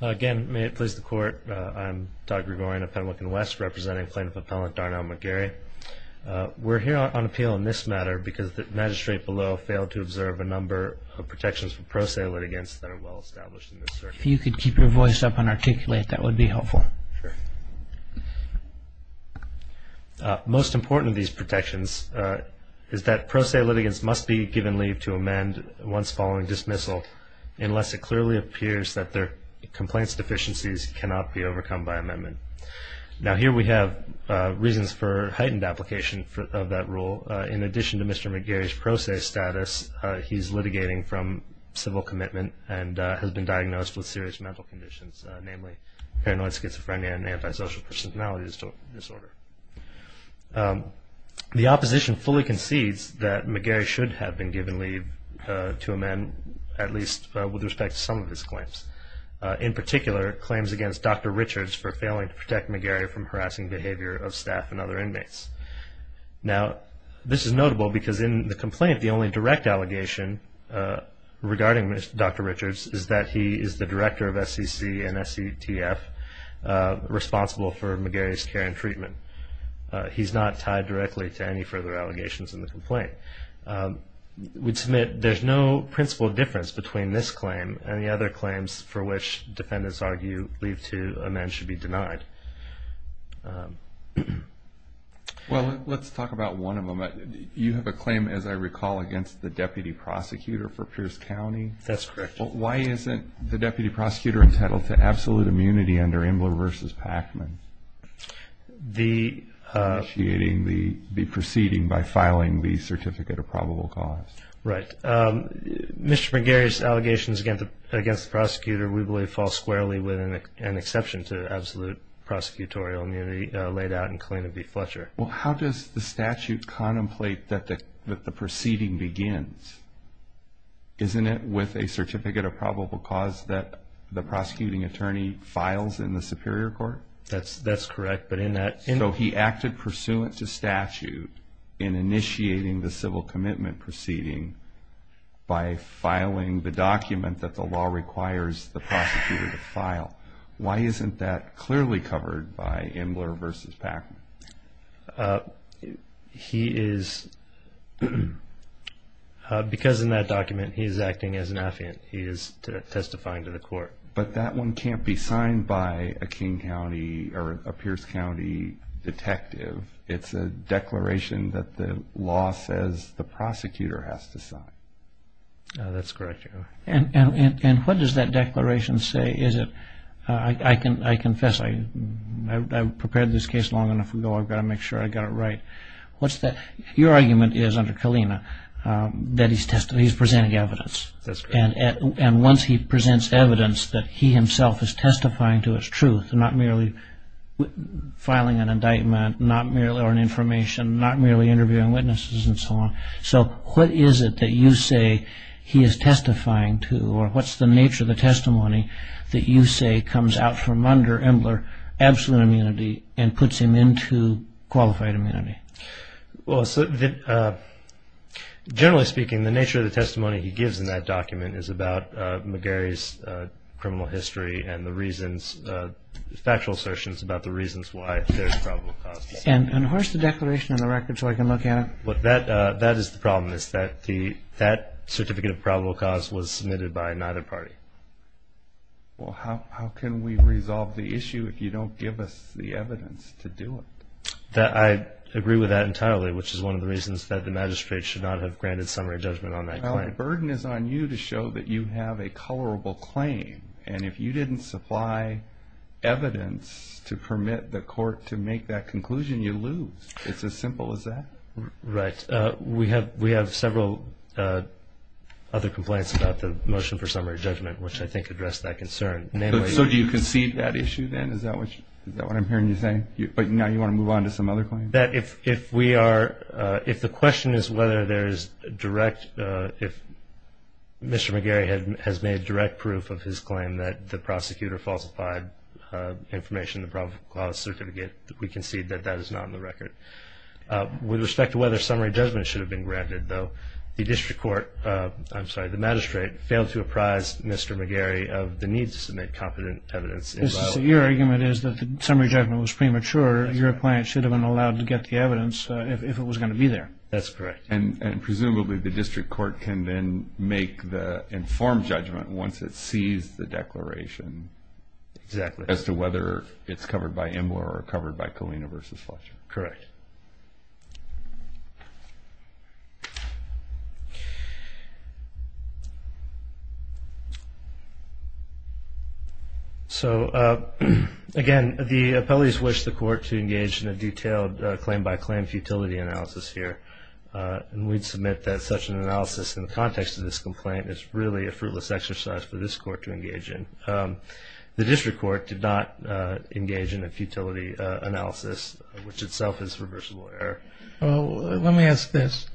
Again, may it please the court, I'm Doug Rivorian of Pendleton West, representing plaintiff appellant Darnell McGarry. We're here on appeal in this matter because the magistrate below failed to observe a number of protections for pro se litigants that are well established in this circuit. If you could keep your voice up and articulate, that would be helpful. Sure. Most important of these protections is that pro se litigants must be given leave to amend once following dismissal unless it clearly appears that their complaints deficiencies cannot be overcome by amendment. Now here we have reasons for heightened application of that rule. In addition to Mr. McGarry's pro se status, he's litigating from civil commitment and has been diagnosed with serious mental conditions, namely paranoid schizophrenia and antisocial personality disorder. The opposition fully concedes that McGarry should have been given leave to amend at least with respect to some of his claims. In particular, claims against Dr. Richards for failing to protect McGarry from harassing behavior of staff and other inmates. Now this is notable because in the complaint the only direct allegation regarding Dr. Richards is that he is the director of SEC and SCTF responsible for McGarry's care and treatment. He's not tied directly to any further allegations in the complaint. We'd submit there's no principal difference between this claim and the other claims for which defendants argue leave to amend should be denied. Well, let's talk about one of them. You have a claim, as I recall, against the deputy prosecutor for Pierce County. That's correct. Why isn't the deputy prosecutor entitled to absolute immunity under Ambler v. Pacman? The... Initiating the proceeding by filing the certificate of probable cause. Right. Mr. McGarry's allegations against the prosecutor we believe fall squarely with an exception to absolute prosecutorial immunity laid out in Kalina v. Fletcher. Well, how does the statute contemplate that the proceeding begins? Isn't it with a certificate of probable cause that the prosecuting attorney files in the superior court? That's correct, but in that... So he acted pursuant to statute in initiating the civil commitment proceeding by filing the document that the law requires the prosecutor to file. Why isn't that clearly covered by Ambler v. Pacman? He is... Because in that document he is acting as an affiant. He is testifying to the court. But that one can't be signed by a King County or a Pierce County detective. It's a declaration that the law says the prosecutor has to sign. That's correct. And what does that declaration say? Is it... I confess I prepared this case long enough ago. I've got to make sure I got it right. What's that... Your argument is under Kalina that he's presenting evidence. That's correct. And once he presents evidence that he himself is testifying to his truth and not merely filing an indictment, not merely on information, not merely interviewing witnesses and so on. So what is it that you say he is testifying to? Or what's the nature of the testimony that you say comes out from under Ambler absolute immunity and puts him into qualified immunity? Well, generally speaking, the nature of the testimony he gives in that document is about McGarry's criminal history and the reasons, factual assertions about the reasons why there's probable cause. And where's the declaration in the record so I can look at it? That is the problem, is that that certificate of probable cause was submitted by neither party. Well, how can we resolve the issue if you don't give us the evidence to do it? I agree with that entirely, which is one of the reasons that the magistrate should not have granted summary judgment on that claim. Well, the burden is on you to show that you have a colorable claim. And if you didn't supply evidence to permit the court to make that conclusion, you lose. It's as simple as that. Right. We have several other complaints about the motion for summary judgment, which I think address that concern. So do you concede that issue then? Is that what I'm hearing you say? But now you want to move on to some other claim? If we are – if the question is whether there is direct – if Mr. McGarry has made direct proof of his claim that the prosecutor falsified information in the probable cause certificate, we concede that that is not on the record. With respect to whether summary judgment should have been granted, though, the district court – I'm sorry, the magistrate failed to apprise Mr. McGarry of the need to submit competent evidence. So your argument is that the summary judgment was premature. Your client should have been allowed to get the evidence if it was going to be there. That's correct. And presumably the district court can then make the informed judgment once it sees the declaration. Exactly. As to whether it's covered by IMLR or covered by Colina v. Fletcher. Correct. So, again, the appellees wish the court to engage in a detailed claim-by-claim futility analysis here. And we'd submit that such an analysis in the context of this complaint is really a fruitless exercise for this court to engage in. The district court did not engage in a futility analysis, which itself is reversible error. Well, let me ask this.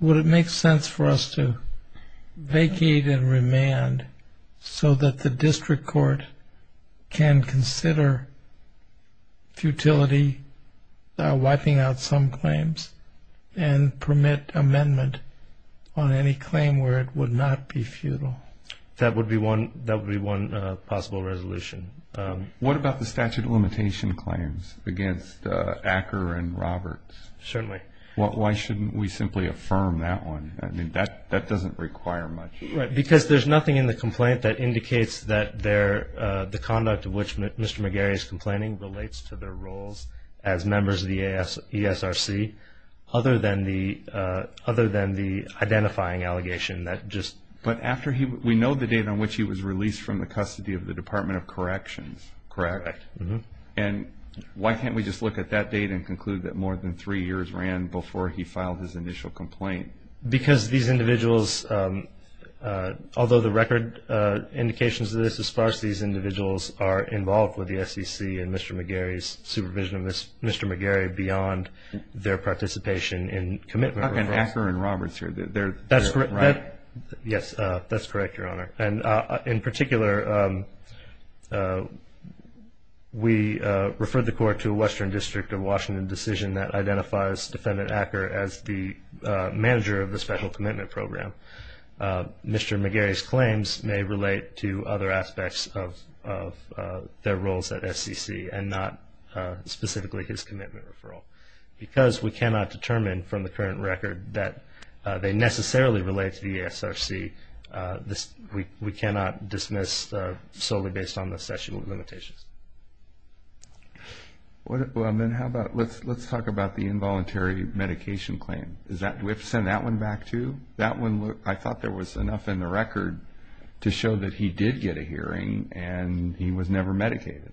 Would it make sense for us to vacate and remand so that the district court can consider futility wiping out some claims and permit amendment on any claim where it would not be futile? That would be one possible resolution. What about the statute of limitation claims against Acker and Roberts? Certainly. Why shouldn't we simply affirm that one? I mean, that doesn't require much. Right, because there's nothing in the complaint that indicates that the conduct of which Mr. McGarry is complaining relates to their roles as members of the ESRC other than the identifying allegation. But we know the date on which he was released from the custody of the Department of Corrections, correct? Correct. And why can't we just look at that date and conclude that more than three years ran before he filed his initial complaint? Because these individuals, although the record indications of this is sparse, these individuals are involved with the SEC and Mr. McGarry's supervision of Mr. McGarry beyond their participation in commitment reforms. Okay, and Acker and Roberts, they're right? Yes, that's correct, Your Honor. And in particular, we refer the court to a Western District of Washington decision that identifies Defendant Acker as the manager of the Special Commitment Program. Mr. McGarry's claims may relate to other aspects of their roles at SEC and not specifically his commitment referral. Because we cannot determine from the current record that they necessarily relate to the ESRC, we cannot dismiss solely based on the session of limitations. Well, then how about let's talk about the involuntary medication claim. Do we have to send that one back too? That one, I thought there was enough in the record to show that he did get a hearing and he was never medicated.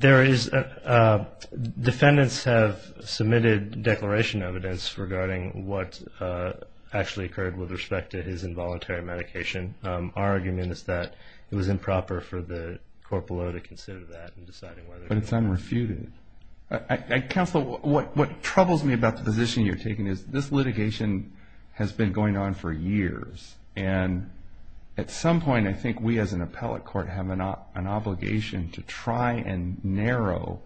There is, defendants have submitted declaration evidence regarding what actually occurred with respect to his involuntary medication. Our argument is that it was improper for the court below to consider that. But it's unrefuted. Counsel, what troubles me about the position you're taking is this litigation has been going on for years. And at some point, I think we as an appellate court have an obligation to try and narrow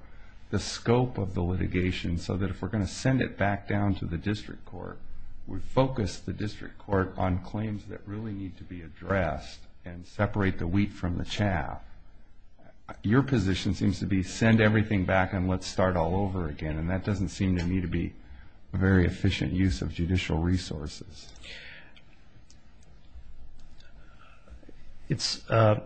the scope of the litigation so that if we're going to send it back down to the district court, we focus the district court on claims that really need to be addressed and separate the wheat from the chaff. Your position seems to be send everything back and let's start all over again. And that doesn't seem to me to be a very efficient use of judicial resources. It's a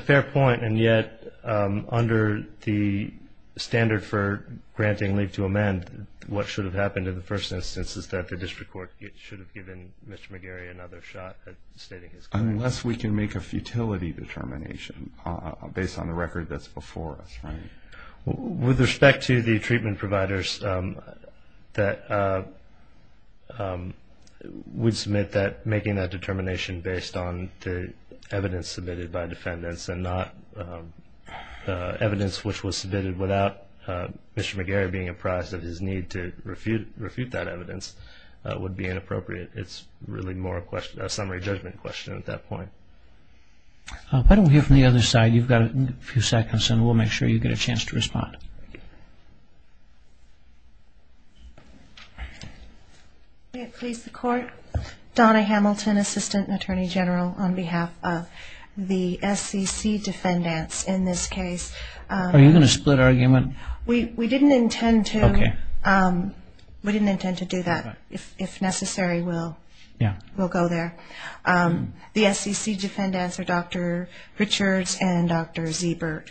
fair point, and yet under the standard for granting leave to amend, what should have happened in the first instance is that the district court should have given Mr. McGarry another shot at stating his claim. Unless we can make a futility determination based on the record that's before us, right? With respect to the treatment providers that would submit that, making that determination based on the evidence submitted by defendants and not evidence which was submitted without Mr. McGarry being apprised of his need to refute that evidence would be inappropriate. It's really more a summary judgment question at that point. Why don't we hear from the other side? You've got a few seconds and we'll make sure you get a chance to respond. May it please the Court? Donna Hamilton, Assistant Attorney General on behalf of the SCC defendants in this case. Are you going to split argument? We didn't intend to. We didn't intend to do that. If necessary, we'll go there. The SCC defendants are Dr. Richards and Dr. Ziebert.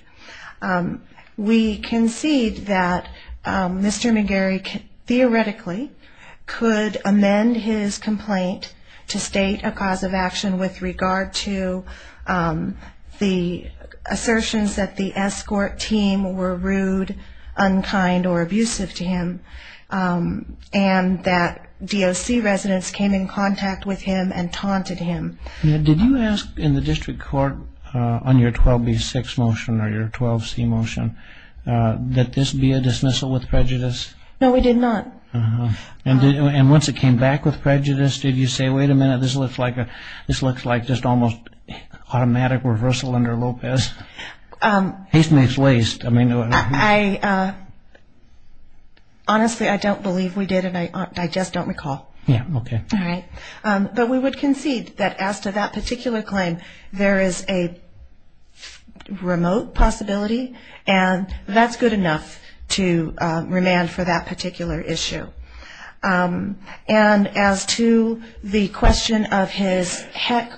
We concede that Mr. McGarry theoretically could amend his complaint to state a cause of action with regard to the assertions that the escort team were rude, unkind, or abusive to him and that DOC residents came in contact with him and taunted him. Did you ask in the district court on your 12B6 motion or your 12C motion that this be a dismissal with prejudice? No, we did not. And once it came back with prejudice, did you say, wait a minute, this looks like just almost automatic reversal under Lopez? Haste makes waste. Honestly, I don't believe we did and I just don't recall. Yeah, okay. All right. But we would concede that as to that particular claim, there is a remote possibility and that's good enough to remand for that particular issue. And as to the question of his heck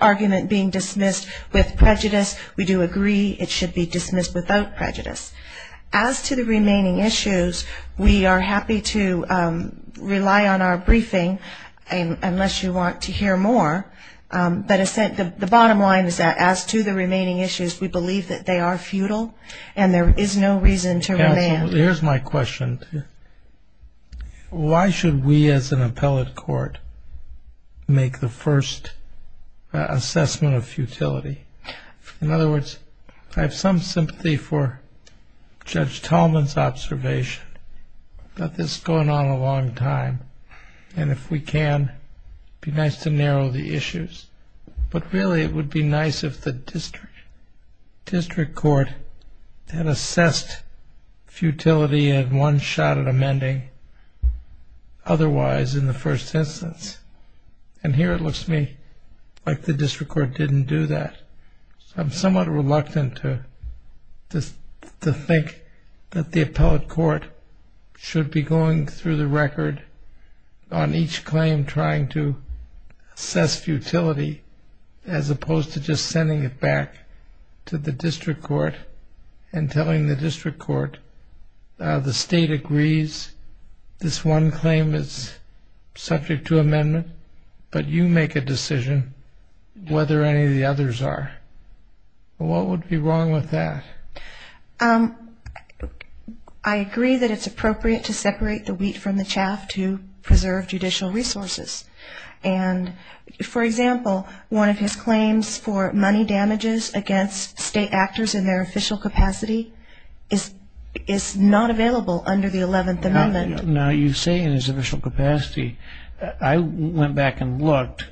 argument being dismissed with prejudice, we do agree it should be dismissed without prejudice. As to the remaining issues, we are happy to rely on our briefing, unless you want to hear more. But the bottom line is that as to the remaining issues, we believe that they are futile and there is no reason to remand. Here's my question. Why should we as an appellate court make the first assessment of futility? In other words, I have some sympathy for Judge Tallman's observation that this has gone on a long time. And if we can, it would be nice to narrow the issues. But really it would be nice if the district court had assessed futility and one shot at amending otherwise in the first instance. And here it looks to me like the district court didn't do that. I'm somewhat reluctant to think that the appellate court should be going through the record on each claim trying to assess futility as opposed to just sending it back to the district court and telling the district court the state agrees this one claim is subject to amendment, but you make a decision whether any of the others are. What would be wrong with that? I agree that it's appropriate to separate the wheat from the chaff to preserve judicial resources. And, for example, one of his claims for money damages against state actors in their official capacity is not available under the 11th Amendment. Now you say in his official capacity. I went back and looked.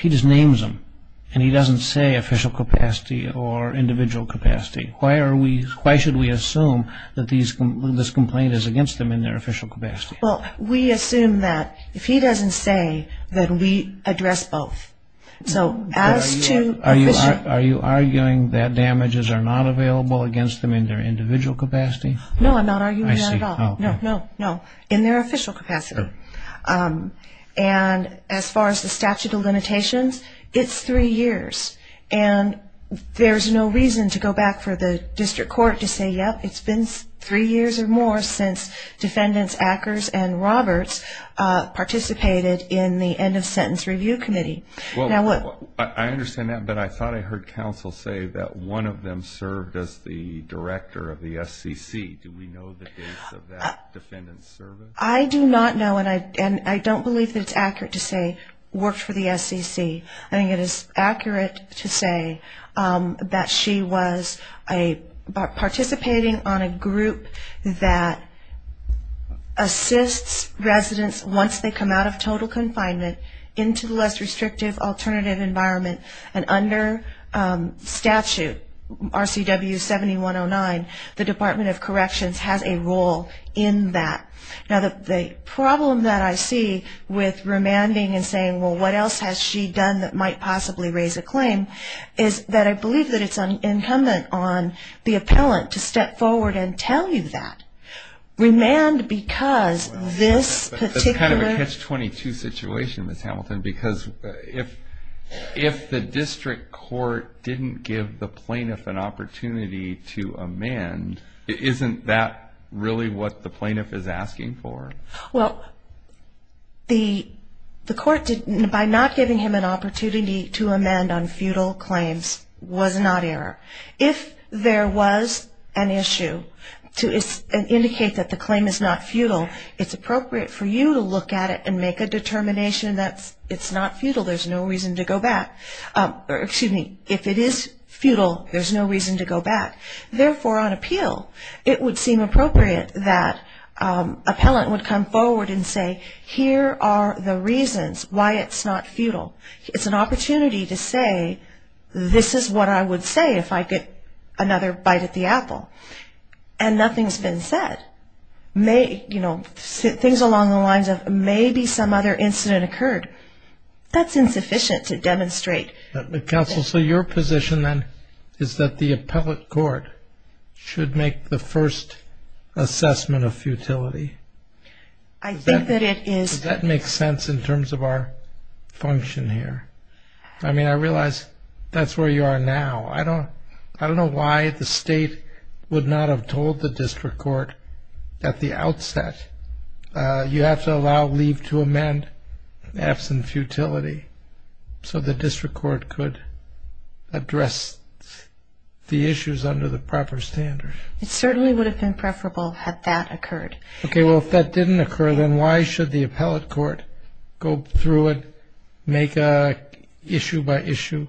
He just names them, and he doesn't say official capacity or individual capacity. Why should we assume that this complaint is against them in their official capacity? Well, we assume that if he doesn't say, then we address both. So as to official... Are you arguing that damages are not available against them in their individual capacity? No, I'm not arguing that at all. No, no, no. In their official capacity. And as far as the statute of limitations, it's three years. And there's no reason to go back for the district court to say, yep, it's been three years or more since defendants Akers and Roberts participated in the End of Sentence Review Committee. I understand that, but I thought I heard counsel say that one of them served as the director of the SEC. Do we know the dates of that defendant's service? I do not know, and I don't believe that it's accurate to say worked for the SEC. I think it is accurate to say that she was participating on a group that assists residents once they come out of total confinement into the less restrictive alternative environment and under statute RCW 7109, the Department of Corrections has a role in that. Now, the problem that I see with remanding and saying, well, what else has she done that might possibly raise a claim, is that I believe that it's incumbent on the appellant to step forward and tell you that. Remand because this particular... If the district court didn't give the plaintiff an opportunity to amend, isn't that really what the plaintiff is asking for? Well, the court, by not giving him an opportunity to amend on futile claims, was not error. If there was an issue to indicate that the claim is not futile, it's appropriate for you to look at it and make a determination that it's not futile, there's no reason to go back. Excuse me, if it is futile, there's no reason to go back. Therefore, on appeal, it would seem appropriate that appellant would come forward and say, here are the reasons why it's not futile. It's an opportunity to say, this is what I would say if I get another bite at the apple. And nothing's been said. Things along the lines of, maybe some other incident occurred. That's insufficient to demonstrate. Counsel, so your position then is that the appellate court should make the first assessment of futility. I think that it is. Does that make sense in terms of our function here? I mean, I realize that's where you are now. I don't know why the state would not have told the district court at the outset, you have to allow leave to amend absent futility, so the district court could address the issues under the proper standard. It certainly would have been preferable had that occurred. Okay, well, if that didn't occur, then why should the appellate court go through it, make an issue-by-issue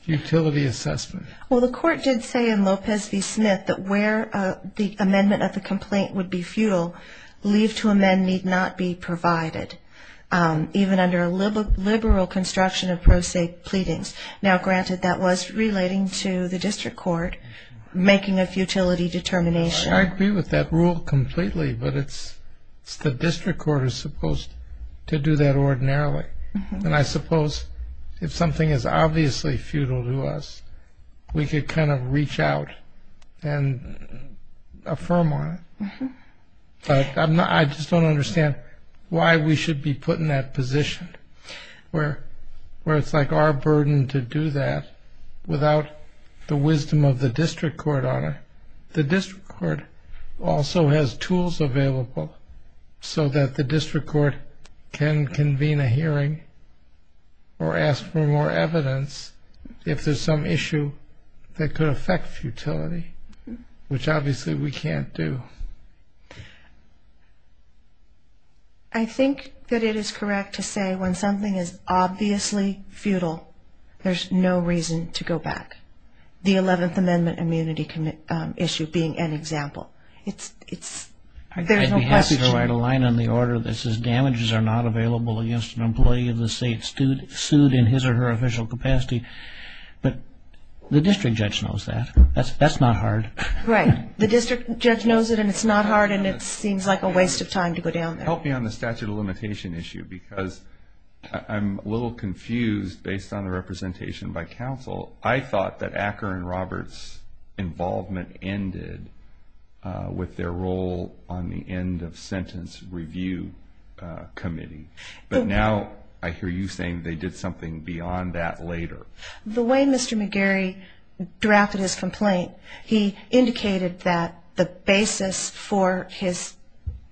futility assessment? Well, the court did say in Lopez v. Smith that where the amendment of the complaint would be futile, leave to amend need not be provided, even under a liberal construction of pro se pleadings. Now, granted, that was relating to the district court making a futility determination. I agree with that rule completely, but the district court is supposed to do that ordinarily. And I suppose if something is obviously futile to us, we could kind of reach out and affirm on it. But I just don't understand why we should be put in that position, where it's like our burden to do that without the wisdom of the district court on it. The district court also has tools available so that the district court can convene a hearing or ask for more evidence if there's some issue that could affect futility, which obviously we can't do. I think that it is correct to say when something is obviously futile, there's no reason to go back. The 11th Amendment immunity issue being an example, there's no question. I'd be happy to write a line on the order that says, damages are not available against an employee of the state sued in his or her official capacity. But the district judge knows that. That's not hard. Right. The district judge knows it, and it's not hard, and it seems like a waste of time to go down there. Help me on the statute of limitation issue, because I'm a little confused based on the representation by counsel. I thought that Acker and Roberts' involvement ended with their role on the end-of-sentence review committee. But now I hear you saying they did something beyond that later. The way Mr. McGarry drafted his complaint, he indicated that the basis for his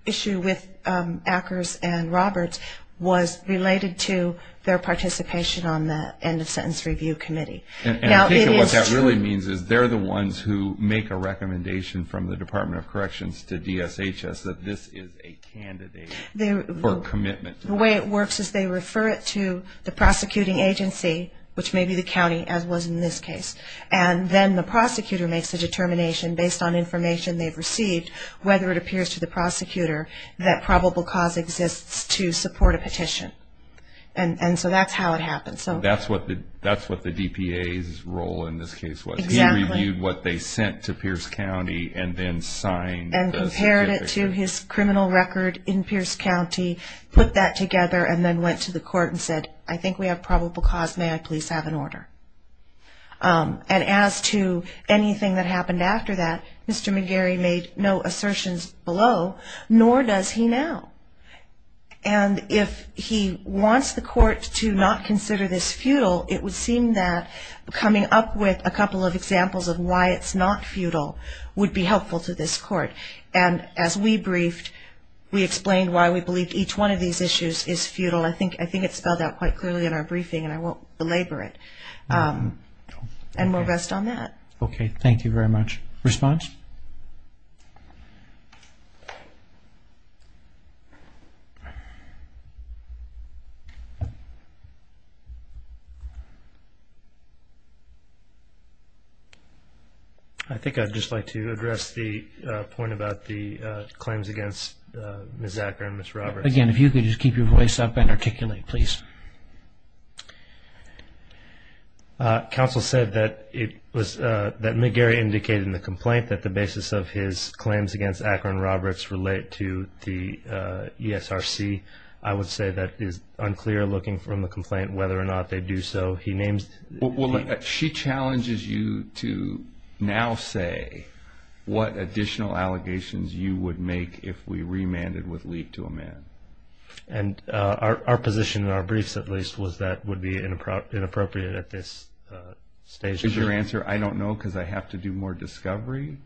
issue with Ackers and Roberts was related to their participation on the end-of-sentence review committee. And I take it what that really means is they're the ones who make a recommendation from the Department of Corrections to DSHS that this is a candidate for commitment. The way it works is they refer it to the prosecuting agency, which may be the county, as was in this case. And then the prosecutor makes a determination based on information they've received, whether it appears to the prosecutor that probable cause exists to support a petition. And so that's how it happens. That's what the DPA's role in this case was. Exactly. He reviewed what they sent to Pierce County and then signed the certificate. And compared it to his criminal record in Pierce County, put that together, and then went to the court and said, I think we have probable cause. May I please have an order? And as to anything that happened after that, Mr. McGarry made no assertions below, nor does he now. And if he wants the court to not consider this futile, it would seem that coming up with a couple of examples of why it's not futile would be helpful to this court. And as we briefed, we explained why we believe each one of these issues is futile. I think it's spelled out quite clearly in our briefing, and I won't belabor it. And we'll rest on that. Okay. Thank you very much. Response? I think I'd just like to address the point about the claims against Ms. Acker and Ms. Roberts. Again, if you could just keep your voice up and articulate, please. Counsel said that it was that McGarry indicated in the complaint that the basis of his claims against Acker and Roberts relate to the ESRC. I would say that it is unclear, looking from the complaint, whether or not they do so. She challenges you to now say what additional allegations you would make if we remanded with leave to amend. And our position in our briefs, at least, was that would be inappropriate at this stage. Is your answer, I don't know because I have to do more discovery?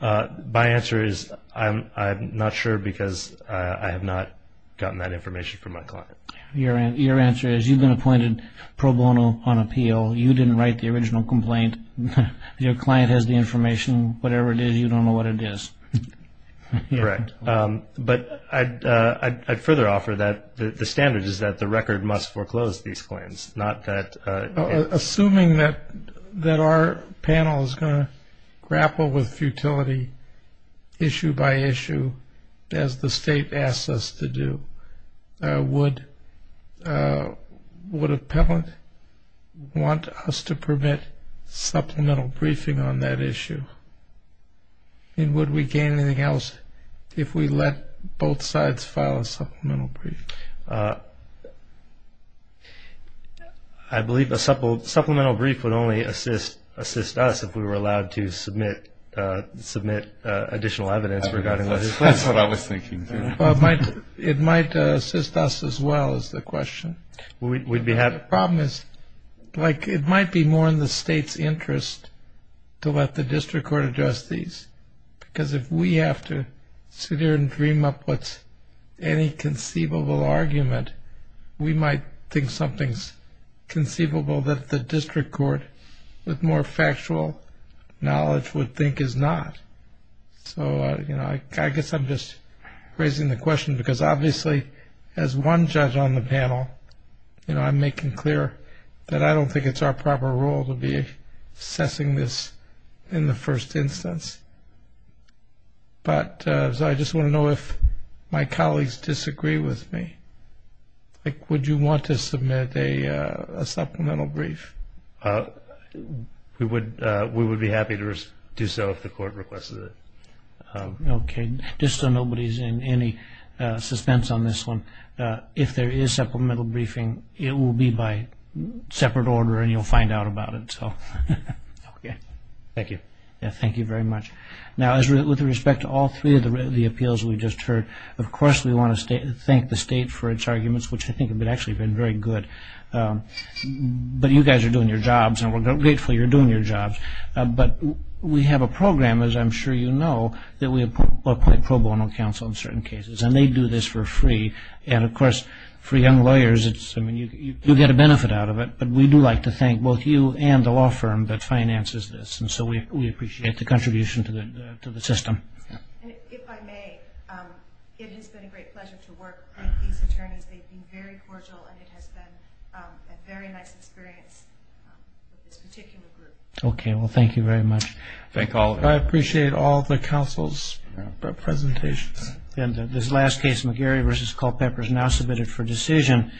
My answer is I'm not sure because I have not gotten that information from my client. Your answer is you've been appointed pro bono on appeal. You didn't write the original complaint. Your client has the information. Whatever it is, you don't know what it is. Correct. But I'd further offer that the standard is that the record must foreclose these claims, not that it's- Assuming that our panel is going to grapple with futility issue by issue as the state asks us to do, would appellant want us to permit supplemental briefing on that issue? And would we gain anything else if we let both sides file a supplemental brief? I believe a supplemental brief would only assist us if we were allowed to submit additional evidence regarding- That's what I was thinking. It might assist us as well is the question. The problem is it might be more in the state's interest to let the district court address these because if we have to sit here and dream up what's any conceivable argument, we might think something's conceivable that the district court with more factual knowledge would think is not. So, you know, I guess I'm just raising the question because obviously as one judge on the panel, you know, I'm making clear that I don't think it's our proper role to be assessing this in the first instance. But I just want to know if my colleagues disagree with me. Would you want to submit a supplemental brief? We would be happy to do so if the court requests it. Okay. Just so nobody's in any suspense on this one. If there is supplemental briefing, it will be by separate order and you'll find out about it. Okay. Thank you. Thank you very much. Now, with respect to all three of the appeals we just heard, of course we want to thank the state for its arguments, which I think have actually been very good. But you guys are doing your jobs and we're grateful you're doing your jobs. But we have a program, as I'm sure you know, that we apply pro bono counsel in certain cases. And they do this for free. And, of course, for young lawyers, you get a benefit out of it. But we do like to thank both you and the law firm that finances this. And so we appreciate the contribution to the system. If I may, it has been a great pleasure to work with these attorneys. They've been very cordial and it has been a very nice experience with this particular group. Okay. Well, thank you very much. Thank all of you. I appreciate all the counsel's presentations. And this last case, McGarry v. Culpepper, is now submitted for decision.